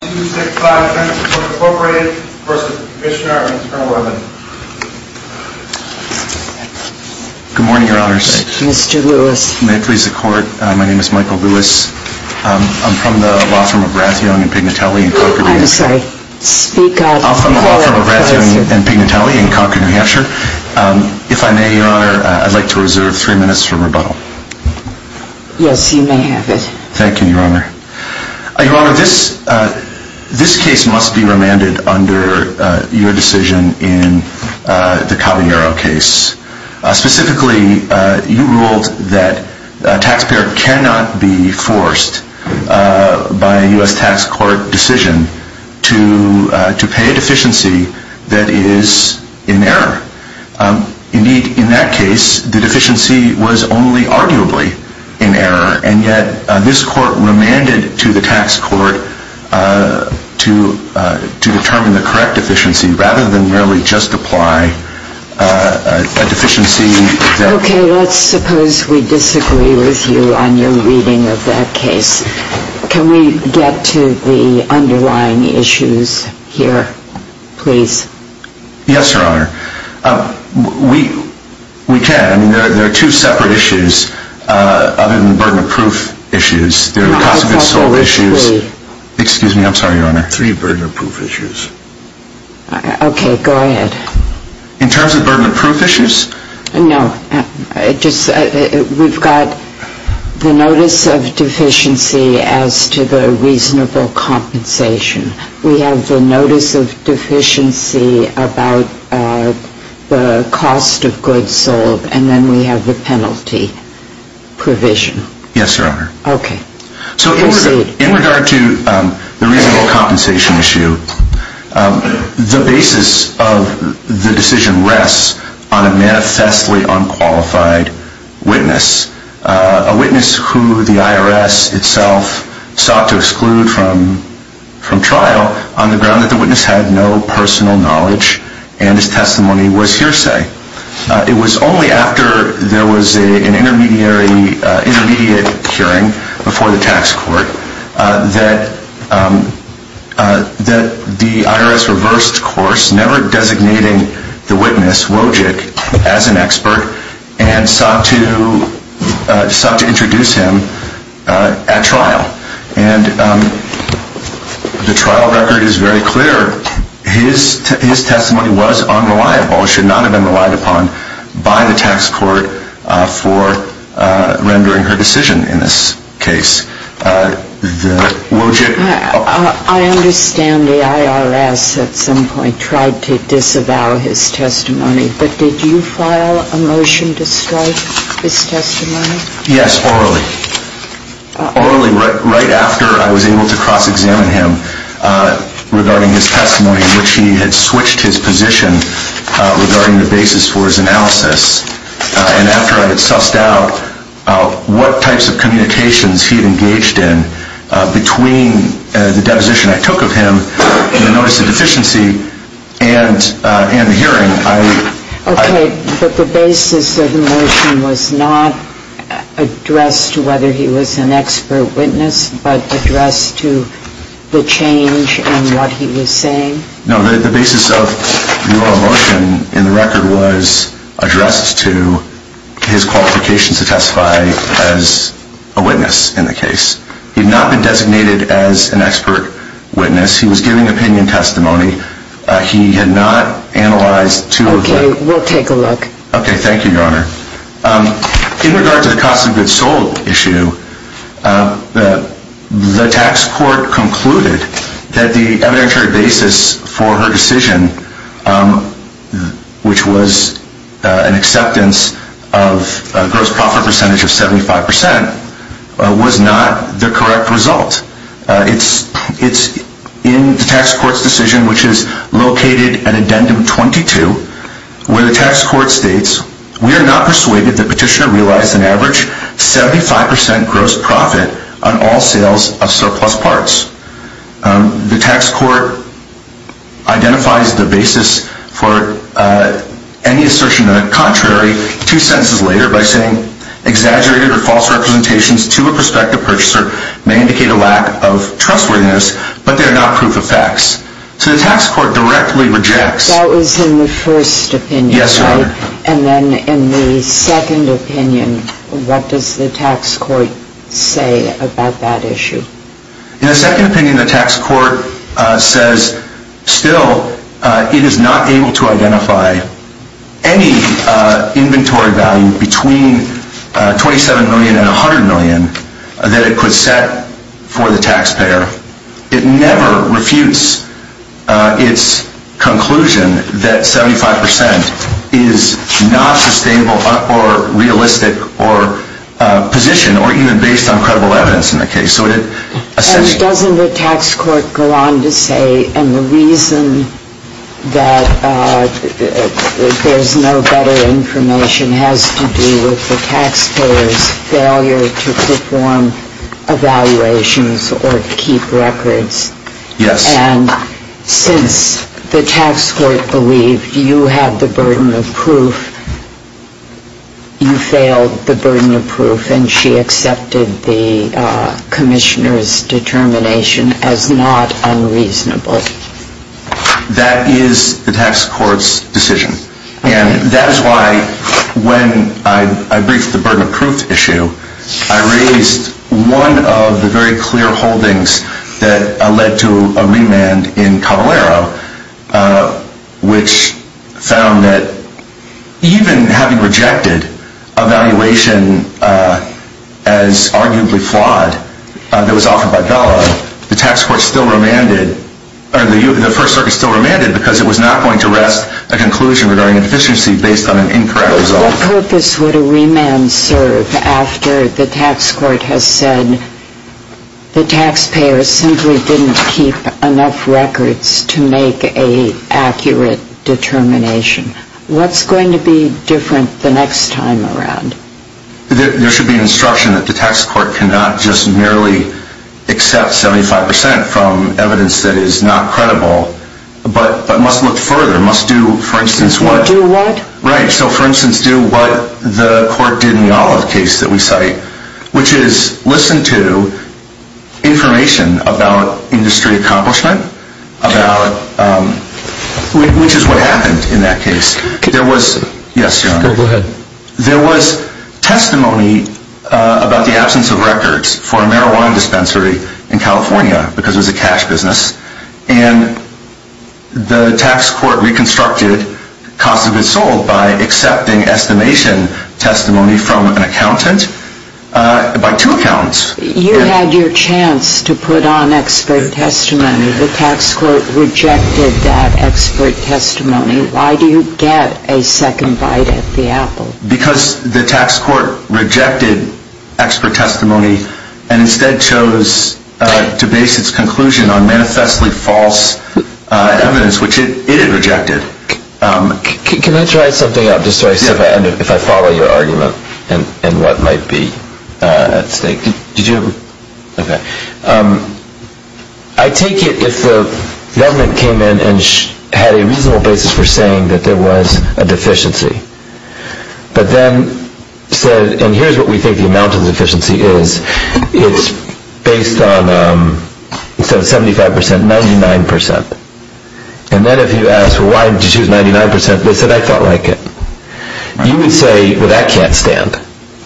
Good morning, Your Honors. May it please the Court, my name is Michael Lewis. I'm from the Law Firm of Rathion and Pignatelli in Concord, NH. If I may, Your Honor, I'd like to reserve three minutes for rebuttal. Yes, you may have it. Thank you, Your Honor. Your Honor, this case must be remanded under your decision in the Caballero case. Specifically, you ruled that a taxpayer cannot be forced by a U.S. tax court decision to pay a deficiency that is in error. Indeed, in that case, the deficiency was only arguably in error, and yet this Court remanded to the tax court to determine the correct deficiency rather than merely just apply a deficiency that... Okay, let's suppose we disagree with you on your reading of that case. Can we get to the underlying issues here, please? Yes, Your Honor. We can. I mean, there are two separate issues other than the burden of proof issues. I thought there were three. Excuse me, I'm sorry, Your Honor. Three burden of proof issues. Okay, go ahead. In terms of burden of proof issues? No. We've got the notice of deficiency as to the reasonable compensation. We have the notice of deficiency about the cost of goods sold, and then we have the penalty provision. Yes, Your Honor. Okay. So in regard to the reasonable compensation issue, the basis of the decision rests on a manifestly unqualified witness. A witness who the IRS itself sought to exclude from trial on the ground that the witness had no personal knowledge and his testimony was hearsay. It was only after there was an intermediate hearing before the tax court that the IRS reversed course, never designating the witness, Wojcik, as an expert, and sought to introduce him at trial. And the trial record is very clear. His testimony was unreliable, should not have been relied upon by the tax court for rendering her decision in this case. I understand the IRS at some point tried to disavow his testimony, but did you file a motion to strike his testimony? Yes, orally. Orally, right after I was able to cross-examine him regarding his testimony, in which he had switched his position regarding the basis for his analysis. And after I had sussed out what types of communications he had engaged in between the deposition I took of him, the notice of deficiency, and the hearing, I... Okay, but the basis of the motion was not addressed to whether he was an expert witness, but addressed to the change in what he was saying? No, the basis of the oral motion in the record was addressed to his qualifications to testify as a witness in the case. He had not been designated as an expert witness. He was giving opinion testimony. He had not analyzed... Okay, we'll take a look. In regard to the cost of goods sold issue, the tax court concluded that the evidentiary basis for her decision, which was an acceptance of gross profit percentage of 75%, was not the correct result. It's in the tax court's decision, which is located at Addendum 22, where the tax court states, We are not persuaded that Petitioner realized an average 75% gross profit on all sales of surplus parts. The tax court identifies the basis for any assertion of the contrary two sentences later by saying, Exaggerated or false representations to a prospective purchaser may indicate a lack of trustworthiness, but they are not proof of facts. So the tax court directly rejects... That was in the first opinion, right? Yes, Your Honor. And then in the second opinion, what does the tax court say about that issue? In the second opinion, the tax court says, Still, it is not able to identify any inventory value between $27 million and $100 million that it could set for the taxpayer. It never refutes its conclusion that 75% is not sustainable or realistic or position or even based on credible evidence in the case. And doesn't the tax court go on to say, And the reason that there's no better information has to do with the taxpayer's failure to perform evaluations or keep records. Yes. And since the tax court believed you had the burden of proof, you failed the burden of proof, and she accepted the commissioner's determination as not unreasonable. That is the tax court's decision. And that is why when I briefed the burden of proof issue, I raised one of the very clear holdings that led to a remand in Cavallaro, which found that even having rejected evaluation as arguably flawed that was offered by Bella, the first circuit still remanded because it was not going to rest a conclusion regarding inefficiency based on an incorrect result. What purpose would a remand serve after the tax court has said the taxpayer simply didn't keep enough records to make an accurate determination? What's going to be different the next time around? There should be an instruction that the tax court cannot just merely accept 75% from evidence that is not credible, but must look further, must do, for instance, what? Do what? Right. So, for instance, do what the court did in the Olive case that we cite, which is listen to information about industry accomplishment, which is what happened in that case. Yes, Your Honor. Go ahead. There was testimony about the absence of records for a marijuana dispensary in California because it was a cash business, and the tax court reconstructed cost of goods sold by accepting estimation testimony from an accountant by two accountants. You had your chance to put on expert testimony. The tax court rejected that expert testimony. Why do you get a second bite at the apple? Because the tax court rejected expert testimony and instead chose to base its conclusion on manifestly false evidence, which it had rejected. Can I try something out, just so I see if I follow your argument and what might be at stake? Did you? Okay. I take it if the government came in and had a reasonable basis for saying that there was a deficiency, but then said, and here's what we think the amount of deficiency is, it's based on, instead of 75%, 99%. And then if you ask, well, why did you choose 99%? They said, I felt like it. You would say, well, that can't stand,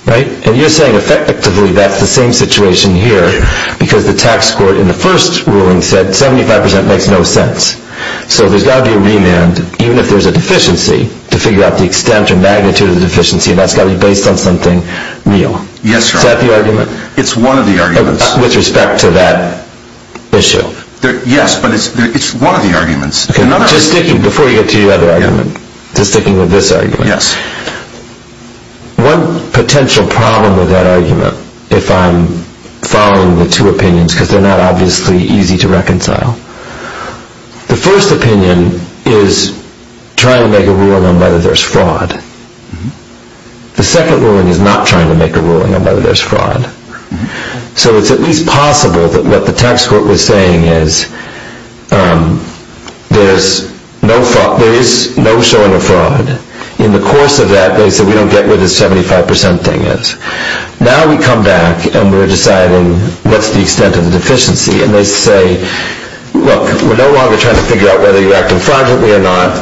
right? And you're saying effectively that's the same situation here, because the tax court in the first ruling said 75% makes no sense. So there's got to be a remand, even if there's a deficiency, to figure out the extent or magnitude of the deficiency, and that's got to be based on something real. Yes, sir. Is that the argument? It's one of the arguments. With respect to that issue? Yes, but it's one of the arguments. Just sticking, before you get to your other argument, just sticking with this argument. Yes. One potential problem with that argument, if I'm following the two opinions, because they're not obviously easy to reconcile. The first opinion is trying to make a ruling on whether there's fraud. The second ruling is not trying to make a ruling on whether there's fraud. So it's at least possible that what the tax court was saying is there is no showing of fraud. In the course of that, they said we don't get where this 75% thing is. Now we come back and we're deciding what's the extent of the deficiency, and they say, look, we're no longer trying to figure out whether you're acting fraudulently or not.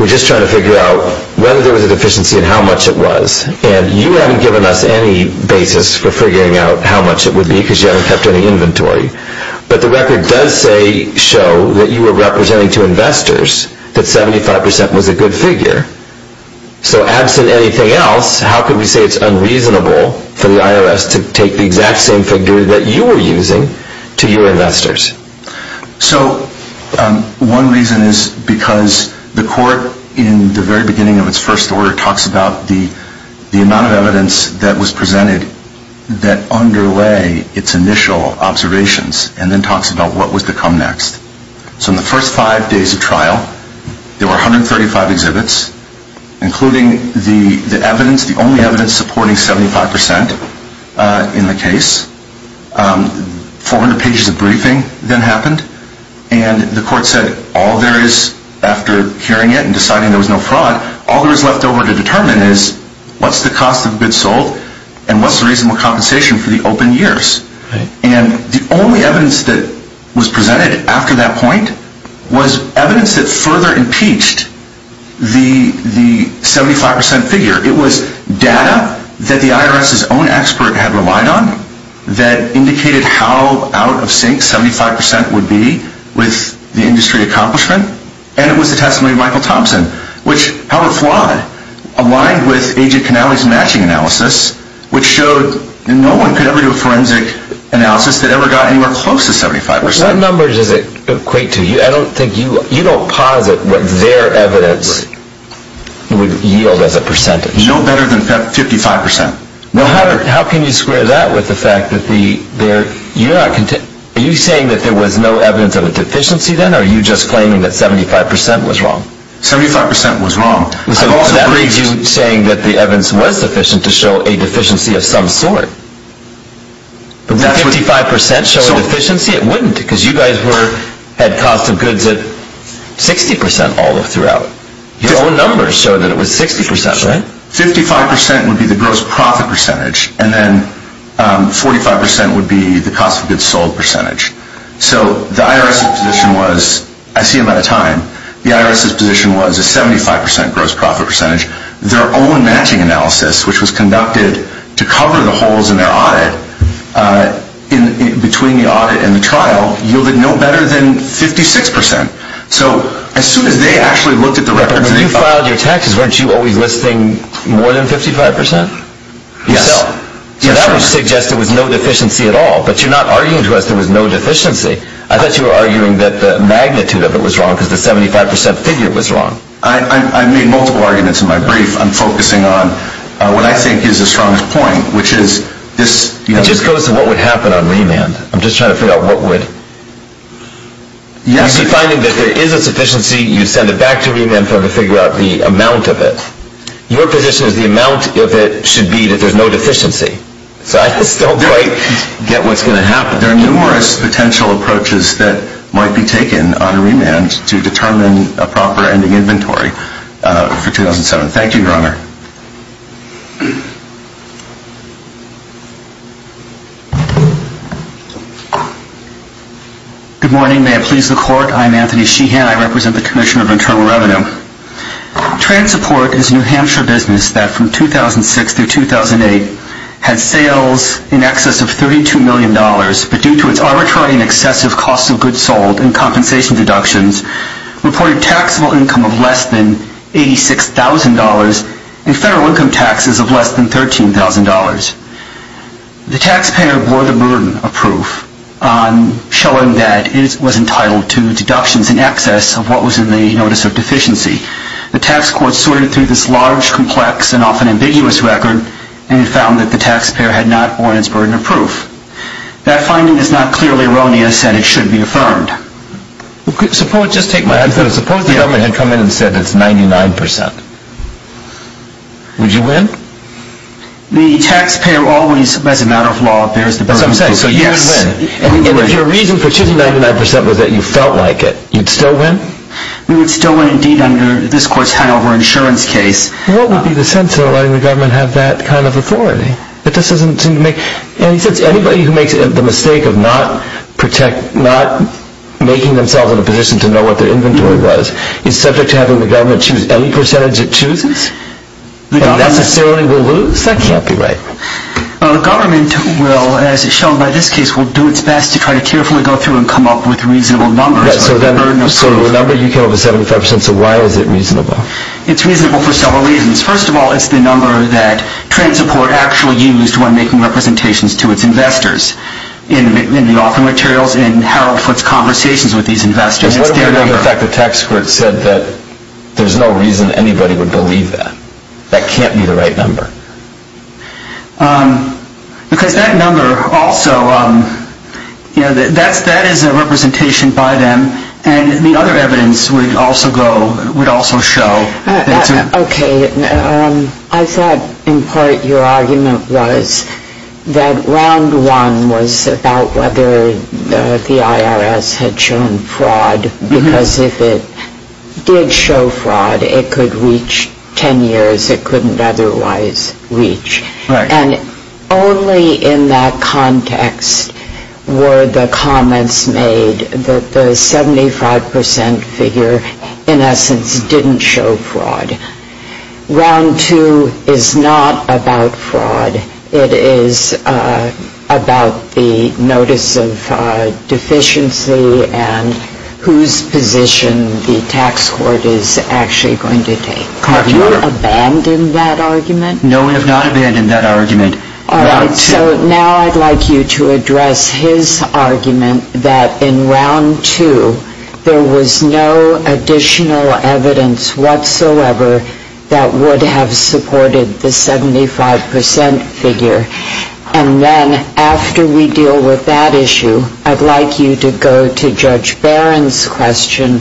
We're just trying to figure out whether there was a deficiency and how much it was. And you haven't given us any basis for figuring out how much it would be, because you haven't kept any inventory. But the record does show that you were representing to investors that 75% was a good figure. So absent anything else, how can we say it's unreasonable for the IRS to take the exact same figure that you were using to your investors? So one reason is because the court, in the very beginning of its first order, talks about the amount of evidence that was presented that underlay its initial observations and then talks about what was to come next. So in the first five days of trial, there were 135 exhibits, including the evidence, the only evidence supporting 75% in the case. 400 pages of briefing then happened. And the court said all there is, after hearing it and deciding there was no fraud, all there is left over to determine is what's the cost of goods sold and what's the reasonable compensation for the open years. And the only evidence that was presented after that point was evidence that further impeached the 75% figure. It was data that the IRS's own expert had relied on that indicated how out of sync 75% would be with the industry accomplishment. And it was the testimony of Michael Thompson, which, however flawed, aligned with Agent Canale's matching analysis, which showed that no one could ever do a forensic analysis that ever got anywhere close to 75%. What numbers does it equate to? I don't think you, you don't posit what their evidence would yield as a percentage. No better than 55%. How can you square that with the fact that the, you're not, are you saying that there was no evidence of a deficiency then? Or are you just claiming that 75% was wrong? 75% was wrong. That means you're saying that the evidence was sufficient to show a deficiency of some sort. Would 55% show a deficiency? It wouldn't, because you guys were, had cost of goods at 60% all throughout. Your own numbers show that it was 60%, right? 55% would be the gross profit percentage, and then 45% would be the cost of goods sold percentage. So, the IRS's position was, I see them at a time, the IRS's position was a 75% gross profit percentage. Their own matching analysis, which was conducted to cover the holes in their audit, between the audit and the trial, yielded no better than 56%. So, as soon as they actually looked at the records and they found... But when you filed your taxes, weren't you always listing more than 55%? Yes. So, that would suggest there was no deficiency at all. But you're not arguing to us there was no deficiency. I thought you were arguing that the magnitude of it was wrong, because the 75% figure was wrong. I've made multiple arguments in my brief. I'm focusing on what I think is the strongest point, which is this... It just goes to what would happen on remand. I'm just trying to figure out what would... You'd be finding that there is a sufficiency. You'd send it back to remand for them to figure out the amount of it. Your position is the amount of it should be that there's no deficiency. So, I just don't quite get what's going to happen. There are numerous potential approaches that might be taken on a remand to determine a proper ending inventory for 2007. Thank you, Your Honor. Good morning. May I please the Court? I'm Anthony Sheehan. I represent the Commissioner of Internal Revenue. TransSupport is a New Hampshire business that, from 2006 through 2008, had sales in excess of $32 million, but due to its arbitrary and excessive cost of goods sold and compensation deductions, reported taxable income of less than $86,000 and federal income taxes of less than $13,000. The taxpayer bore the burden of proof on showing that it was entitled to deductions in excess of what was in the notice of deficiency. The tax court sorted through this large, complex, and often ambiguous record and found that the taxpayer had not borne its burden of proof. That finding is not clearly erroneous and it should be affirmed. Suppose the government had come in and said it's 99%. Would you win? And if your reason for choosing 99% was that you felt like it, you'd still win? What would be the sense of letting the government have that kind of authority? And since anybody who makes the mistake of not making themselves in a position to know what their inventory was is subject to having the government choose any percentage it chooses? And necessarily will lose? That can't be right. The government, as shown by this case, will do its best to try to carefully go through and come up with reasonable numbers. So the number you killed was 75%, so why is it reasonable? It's reasonable for several reasons. First of all, it's the number that TransSupport actually used when making representations to its investors. In the author materials, in Harold Foote's conversations with these investors, it's their number. What about the fact that the tax court said that there's no reason anybody would believe that? That can't be the right number. Because that number also, that is a representation by them. And the other evidence would also go, would also show. Okay, I thought in part your argument was that round one was about whether the IRS had shown fraud. Because if it did show fraud, it could reach 10 years it couldn't otherwise reach. And only in that context were the comments made that the 75% figure, in essence, didn't show fraud. Round two is not about fraud. It is about the notice of deficiency and whose position the tax court is actually going to take. Have you abandoned that argument? No, we have not abandoned that argument. All right, so now I'd like you to address his argument that in round two, there was no additional evidence whatsoever that would have supported the 75% figure. And then after we deal with that issue, I'd like you to go to Judge Barron's question,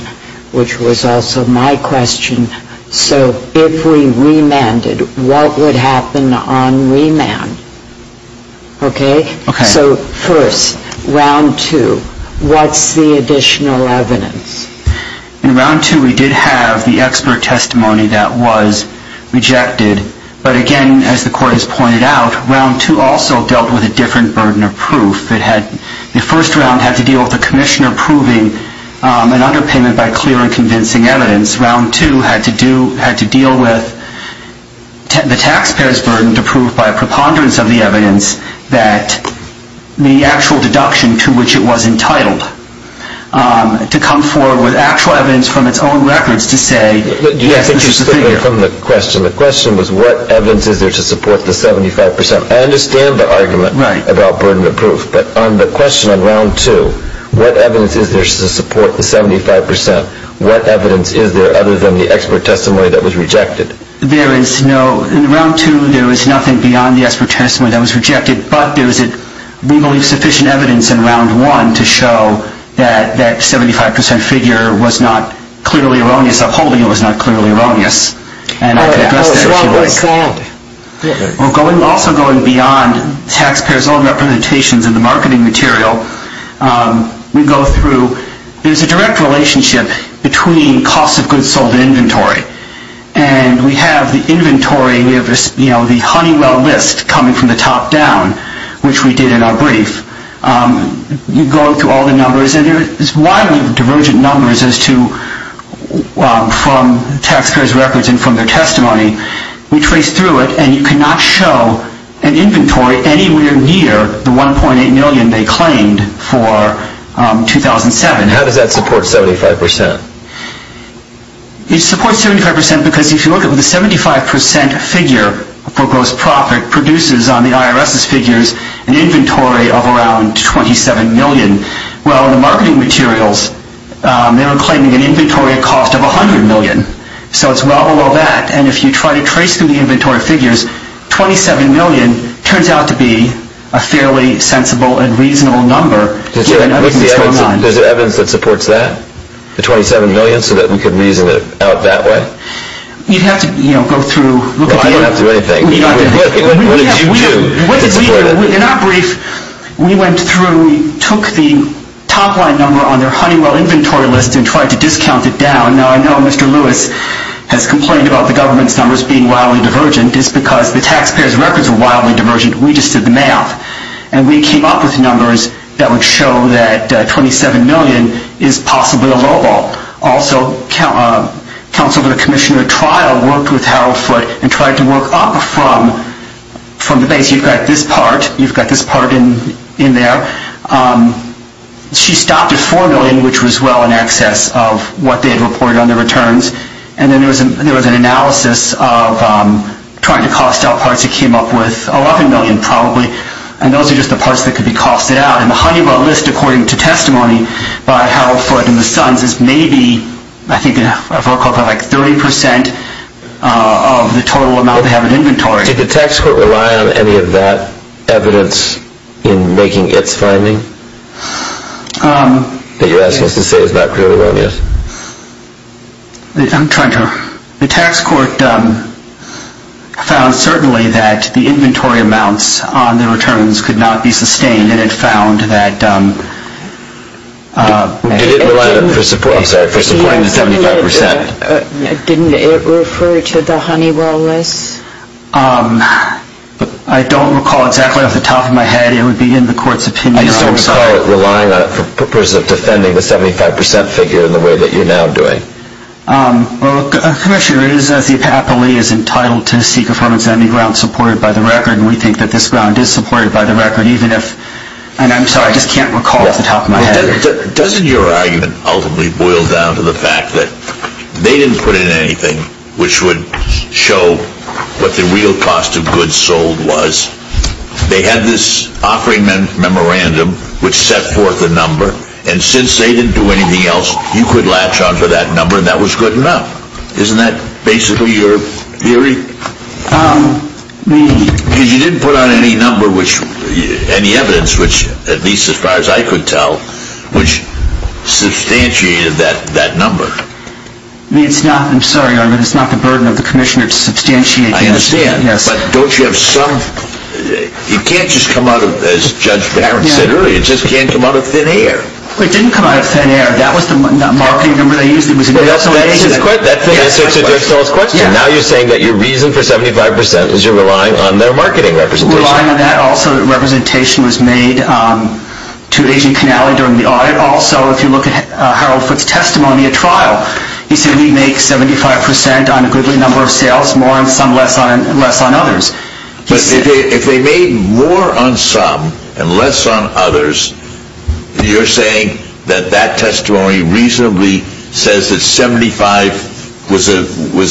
which was also my question. So if we remanded, what would happen on remand? Okay? Okay. So first, round two, what's the additional evidence? In round two, we did have the expert testimony that was rejected. But again, as the court has pointed out, round two also dealt with a different burden of proof. The first round had to deal with the commissioner proving an underpayment by clear and convincing evidence. Round two had to deal with the taxpayer's burden to prove by a preponderance of the evidence that the actual deduction to which it was entitled, to come forward with actual evidence from its own records to say, yes, this is the figure. The question was, what evidence is there to support the 75%? I understand the argument about burden of proof, but on the question on round two, what evidence is there to support the 75%? What evidence is there other than the expert testimony that was rejected? In round two, there was nothing beyond the expert testimony that was rejected, but there was, we believe, sufficient evidence in round one to show that that 75% figure was not clearly erroneous, upholding it was not clearly erroneous. We're also going beyond taxpayers' own representations in the marketing material. We go through, there's a direct relationship between cost of goods sold and inventory. And we have the inventory, we have the Honeywell list coming from the top down, which we did in our brief. You go through all the numbers, and there's widely divergent numbers as to, from taxpayers' records and from their testimony. We trace through it, and you cannot show an inventory anywhere near the 1.8 million they claimed for 2007. And how does that support 75%? It supports 75% because if you look at the 75% figure for gross profit, it produces on the IRS's figures an inventory of around 27 million. Well, the marketing materials, they were claiming an inventory cost of 100 million. So it's well below that, and if you try to trace through the inventory figures, 27 million turns out to be a fairly sensible and reasonable number given everything that's going on. There's evidence that supports that, the 27 million, so that we could reason it out that way? In our brief, we went through, took the top line number on their Honeywell inventory list and tried to discount it down. Now, I know Mr. Lewis has complained about the government's numbers being wildly divergent. It's because the taxpayers' records are wildly divergent. We just did the math, and we came up with numbers that would show that 27 million is possibly a low ball. Also, counsel to the commissioner at trial worked with Harold Foote and tried to work up from the base. You've got this part, you've got this part in there. She stopped at 4 million, which was well in excess of what they had reported on their returns. And then there was an analysis of trying to cost out parts that came up with 11 million probably, and those are just the parts that could be costed out. And the Honeywell list, according to testimony by Harold Foote and the Sons, is maybe, I think, I forgot, like 30% of the total amount they have in inventory. Did the tax court rely on any of that evidence in making its finding? That you're asking us to say is not clearly one, yes? I'm trying to... The tax court found certainly that the inventory amounts on their returns could not be sustained, and it found that... Did it rely on it for support, I'm sorry, for supporting the 75%? Didn't it refer to the Honeywell list? I don't recall exactly off the top of my head. It would be in the court's opinion. I just don't recall it relying on it for purpose of defending the 75% figure in the way that you're now doing. Commissioner, it is as the apathy is entitled to seek a firm and sound ground supported by the record, and we think that this ground is supported by the record, even if... And I'm sorry, I just can't recall off the top of my head. Doesn't your argument ultimately boil down to the fact that they didn't put in anything which would show what the real cost of goods sold was? They had this offering memorandum which set forth a number, and since they didn't do anything else, you could latch on to that number, and that was good enough. Isn't that basically your theory? Because you didn't put on any number, any evidence, at least as far as I could tell, which substantiated that number. I'm sorry, Your Honor, but it's not the burden of the Commissioner to substantiate that. I understand, but don't you have some... It can't just come out of, as Judge Barron said earlier, it just can't come out of thin air. It didn't come out of thin air. That was the marketing number they used. That's the answer to Judge Sull's question. Now you're saying that your reason for 75% is you're relying on their marketing representation. We're relying on that, also, that representation was made to Agent Canale during the audit. Also, if you look at Harold Foote's testimony at trial, he said we make 75% on a goodly number of sales, more on some, less on others. But if they made more on some and less on others, you're saying that that testimony reasonably says that 75 was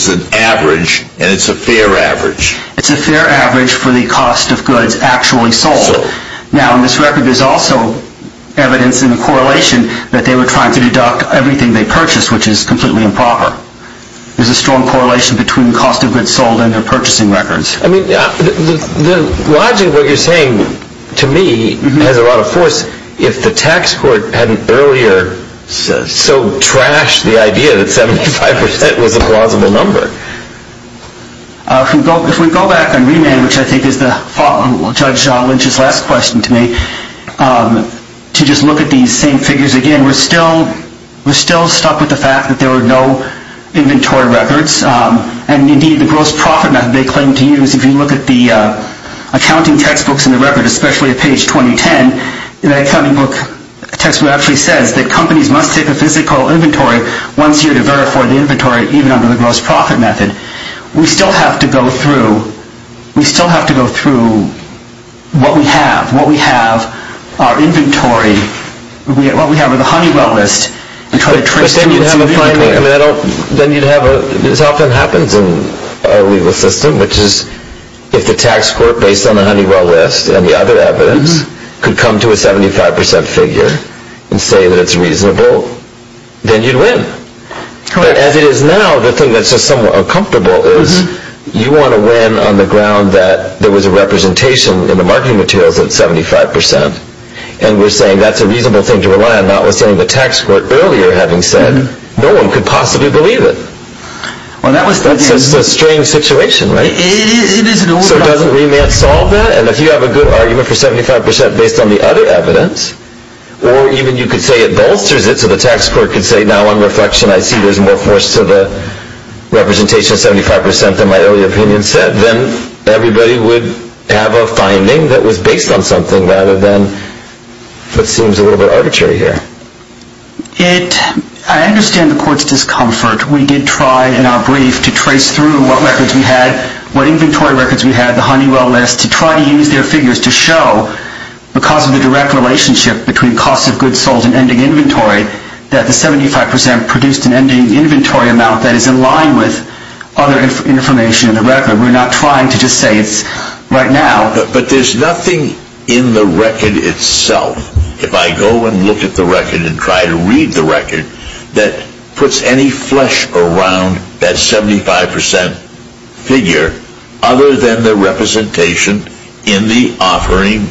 an average and it's a fair average. It's a fair average for the cost of goods actually sold. Now, in this record, there's also evidence in the correlation that they were trying to deduct everything they purchased, which is completely improper. There's a strong correlation between the cost of goods sold and their purchasing records. The logic of what you're saying, to me, has a lot of force. If the tax court hadn't earlier so trashed the idea that 75% was a plausible number. If we go back on remand, which I think is Judge Lynch's last question to me, to just look at these same figures again, we're still stuck with the fact that there were no inventory records. Indeed, the gross profit method they claim to use, if you look at the accounting textbooks in the record, especially at page 2010, that accounting textbook actually says that companies must take a physical inventory once a year to verify the inventory even under the gross profit method. We still have to go through what we have. What we have are inventory. What we have are the Honeywell list. This often happens in our legal system, which is if the tax court, based on the Honeywell list and the other evidence, could come to a 75% figure and say that it's reasonable, then you'd win. But as it is now, the thing that's just somewhat uncomfortable is you want to win on the ground that there was a representation in the marketing materials of 75%. And we're saying that's a reasonable thing to rely on, notwithstanding the tax court earlier having said no one could possibly believe it. That's a strange situation, right? So doesn't remand solve that? And if you have a good argument for 75% based on the other evidence, or even you could say it bolsters it so the tax court could say, now on reflection I see there's more force to the representation of 75% than my earlier opinion said, then everybody would have a finding that was based on something rather than what seems a little bit arbitrary here. I understand the court's discomfort. We did try in our brief to trace through what records we had, what inventory records we had, the Honeywell list, to try to use their figures to show, because of the direct relationship between cost of goods sold and ending inventory, that the 75% produced an ending inventory amount that is in line with other information in the record. We're not trying to just say it's right now. But there's nothing in the record itself, if I go and look at the record and try to read the record, that puts any flesh around that 75% figure other than the representation in the offering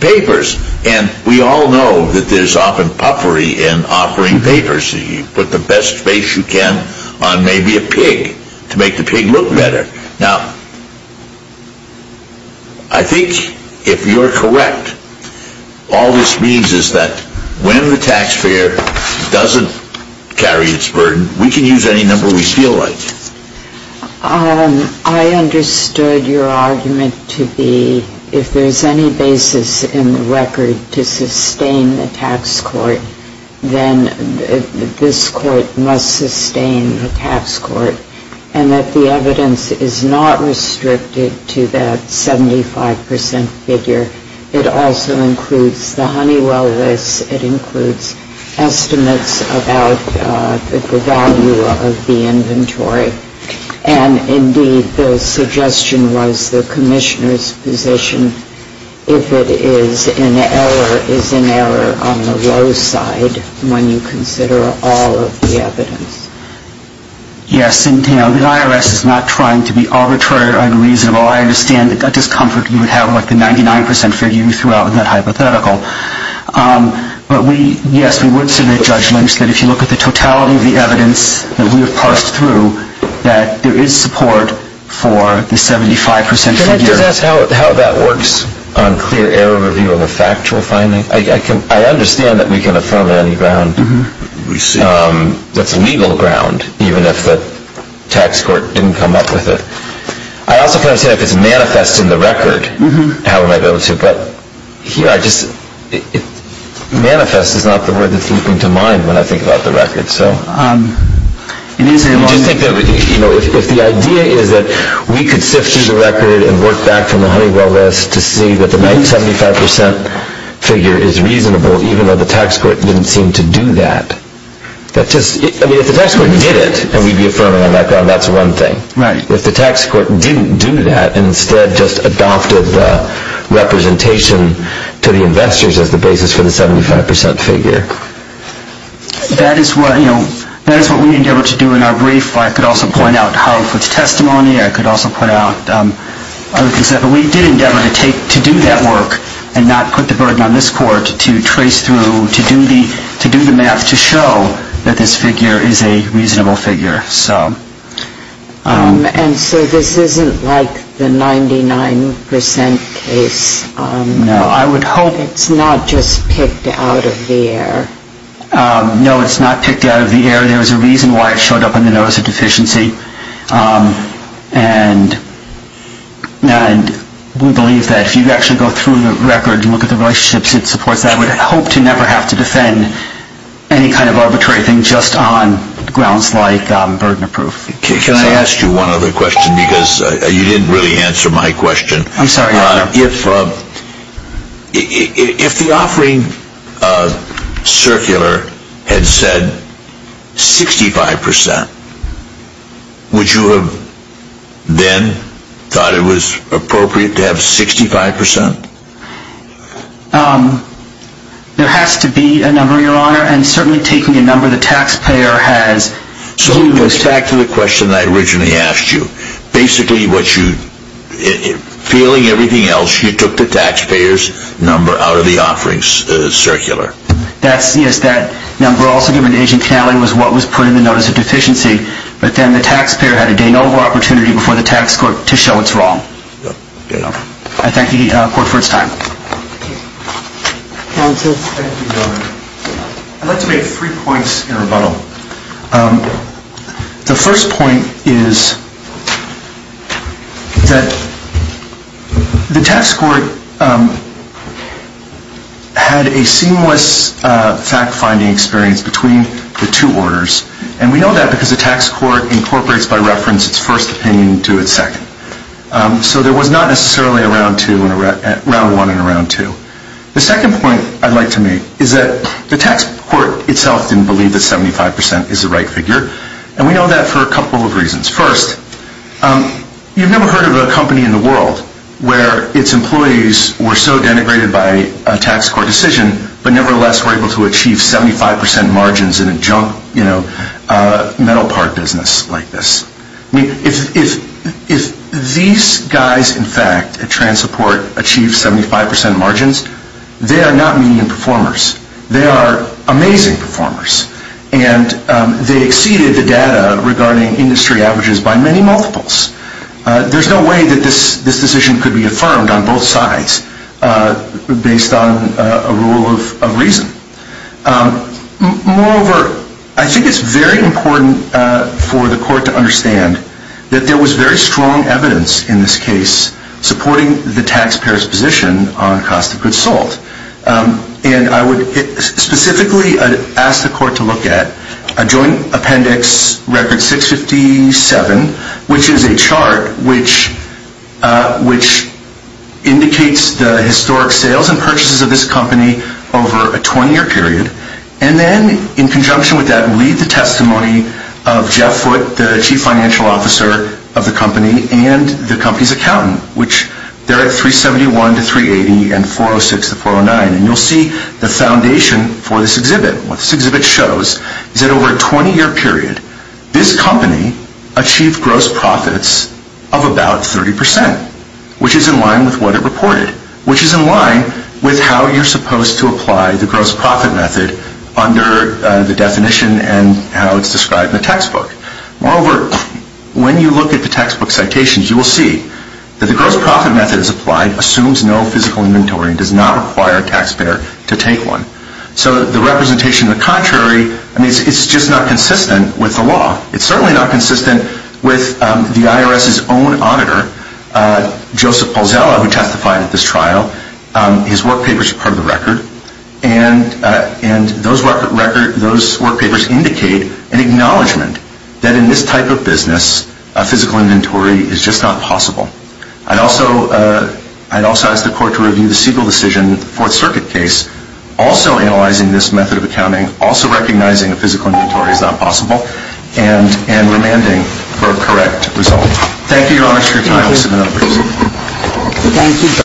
papers. And we all know that there's often puffery in offering papers. You put the best face you can on maybe a pig to make the pig look better. Now, I think if you're correct, all this means is that when the taxpayer doesn't carry its burden, we can use any number we feel like. I understood your argument to be, if there's any basis in the record to sustain the tax court, then this court must sustain the tax court and that the evidence is not restricted to that 75% figure. It also includes the Honeywell list. It includes estimates about the value of the inventory. And, indeed, the suggestion was the commissioner's position, if it is an error, is an error on the low side when you consider all of the evidence. Yes, and the IRS is not trying to be arbitrary or unreasonable. I understand the discomfort you would have with the 99% figure you threw out of that hypothetical. But, yes, we would submit judgments that, if you look at the totality of the evidence that we have parsed through, that there is support for the 75% figure. Can I just ask how that works on clear error review of a factual finding? I understand that we can affirm any ground that's legal ground, even if the tax court didn't come up with it. I also can't say if it's manifest in the record, how am I able to. But here, manifest is not the word that's leaping to mind when I think about the record. If the idea is that we could sift through the record and work back from the Honeywell list to see that the 75% figure is reasonable, even though the tax court didn't seem to do that. If the tax court did it, and we'd be affirming on that ground, that's one thing. If the tax court didn't do that, and instead just adopted the representation to the investors as the basis for the 75% figure. That is what we endeavored to do in our brief. I could also point out how it puts testimony. I could also point out other things. But we did endeavor to do that work and not put the burden on this court to trace through, to do the math to show that this figure is a reasonable figure. And so this isn't like the 99% case? No, I would hope it's not just picked out of the air. No, it's not picked out of the air. There's a reason why it showed up in the notice of deficiency. And we believe that if you actually go through the record and look at the relationships it supports, I would hope to never have to defend any kind of arbitrary thing just on grounds like burden of proof. Can I ask you one other question? Because you didn't really answer my question. I'm sorry, Your Honor. If the offering circular had said 65%, would you have then thought it was appropriate to have 65%? There has to be a number, Your Honor, and certainly taking a number the taxpayer has... So it goes back to the question I originally asked you. Basically, failing everything else, you took the taxpayer's number out of the offering circular. Yes, that number also given to Agent Canale was what was put in the notice of deficiency, but then the taxpayer had a de novo opportunity before the tax court to show it's wrong. I thank the court for its time. I'd like to make three points in rebuttal. The first point is that the tax court had a seamless fact-finding experience between the two orders, and we know that because the tax court incorporates by reference its first opinion to its second. So there was not necessarily a round one and a round two. The second point I'd like to make is that the tax court itself didn't believe that 75% is the right figure, and we know that for a couple of reasons. First, you've never heard of a company in the world where its employees were so denigrated by a tax court decision but nevertheless were able to achieve 75% margins in a junk metal part business like this. If these guys, in fact, at TransSupport achieve 75% margins, they are not medium performers. They are amazing performers, and they exceeded the data regarding industry averages by many multiples. There's no way that this decision could be affirmed on both sides based on a rule of reason. Moreover, I think it's very important for the court to understand that there was very strong evidence in this case supporting the taxpayer's position on cost of goods sold. And I would specifically ask the court to look at a joint appendix record 657, which is a chart which indicates the historic sales and purchases of this company over a 20-year period, and then, in conjunction with that, lead the testimony of Jeff Foote, the chief financial officer of the company, and the company's accountant, which they're at 371 to 380 and 406 to 409. And you'll see the foundation for this exhibit. What this exhibit shows is that over a 20-year period, this company achieved gross profits of about 30%, which is in line with what it reported, which is in line with how you're supposed to apply the gross profit method under the definition and how it's described in the textbook. Moreover, when you look at the textbook citations, you will see that the gross profit method is applied, assumes no physical inventory, and does not require a taxpayer to take one. So the representation of the contrary, I mean, it's just not consistent with the law. It's certainly not consistent with the IRS's own auditor, Joseph Polzella, who testified at this trial. His work papers are part of the record. And those work papers indicate an acknowledgment that in this type of business, a physical inventory is just not possible. I'd also ask the court to review the Siebel decision, the Fourth Circuit case, also analyzing this method of accounting, also recognizing a physical inventory is not possible, and remanding for a correct result. Thank you, Your Honor, for your time. This has been a pleasure.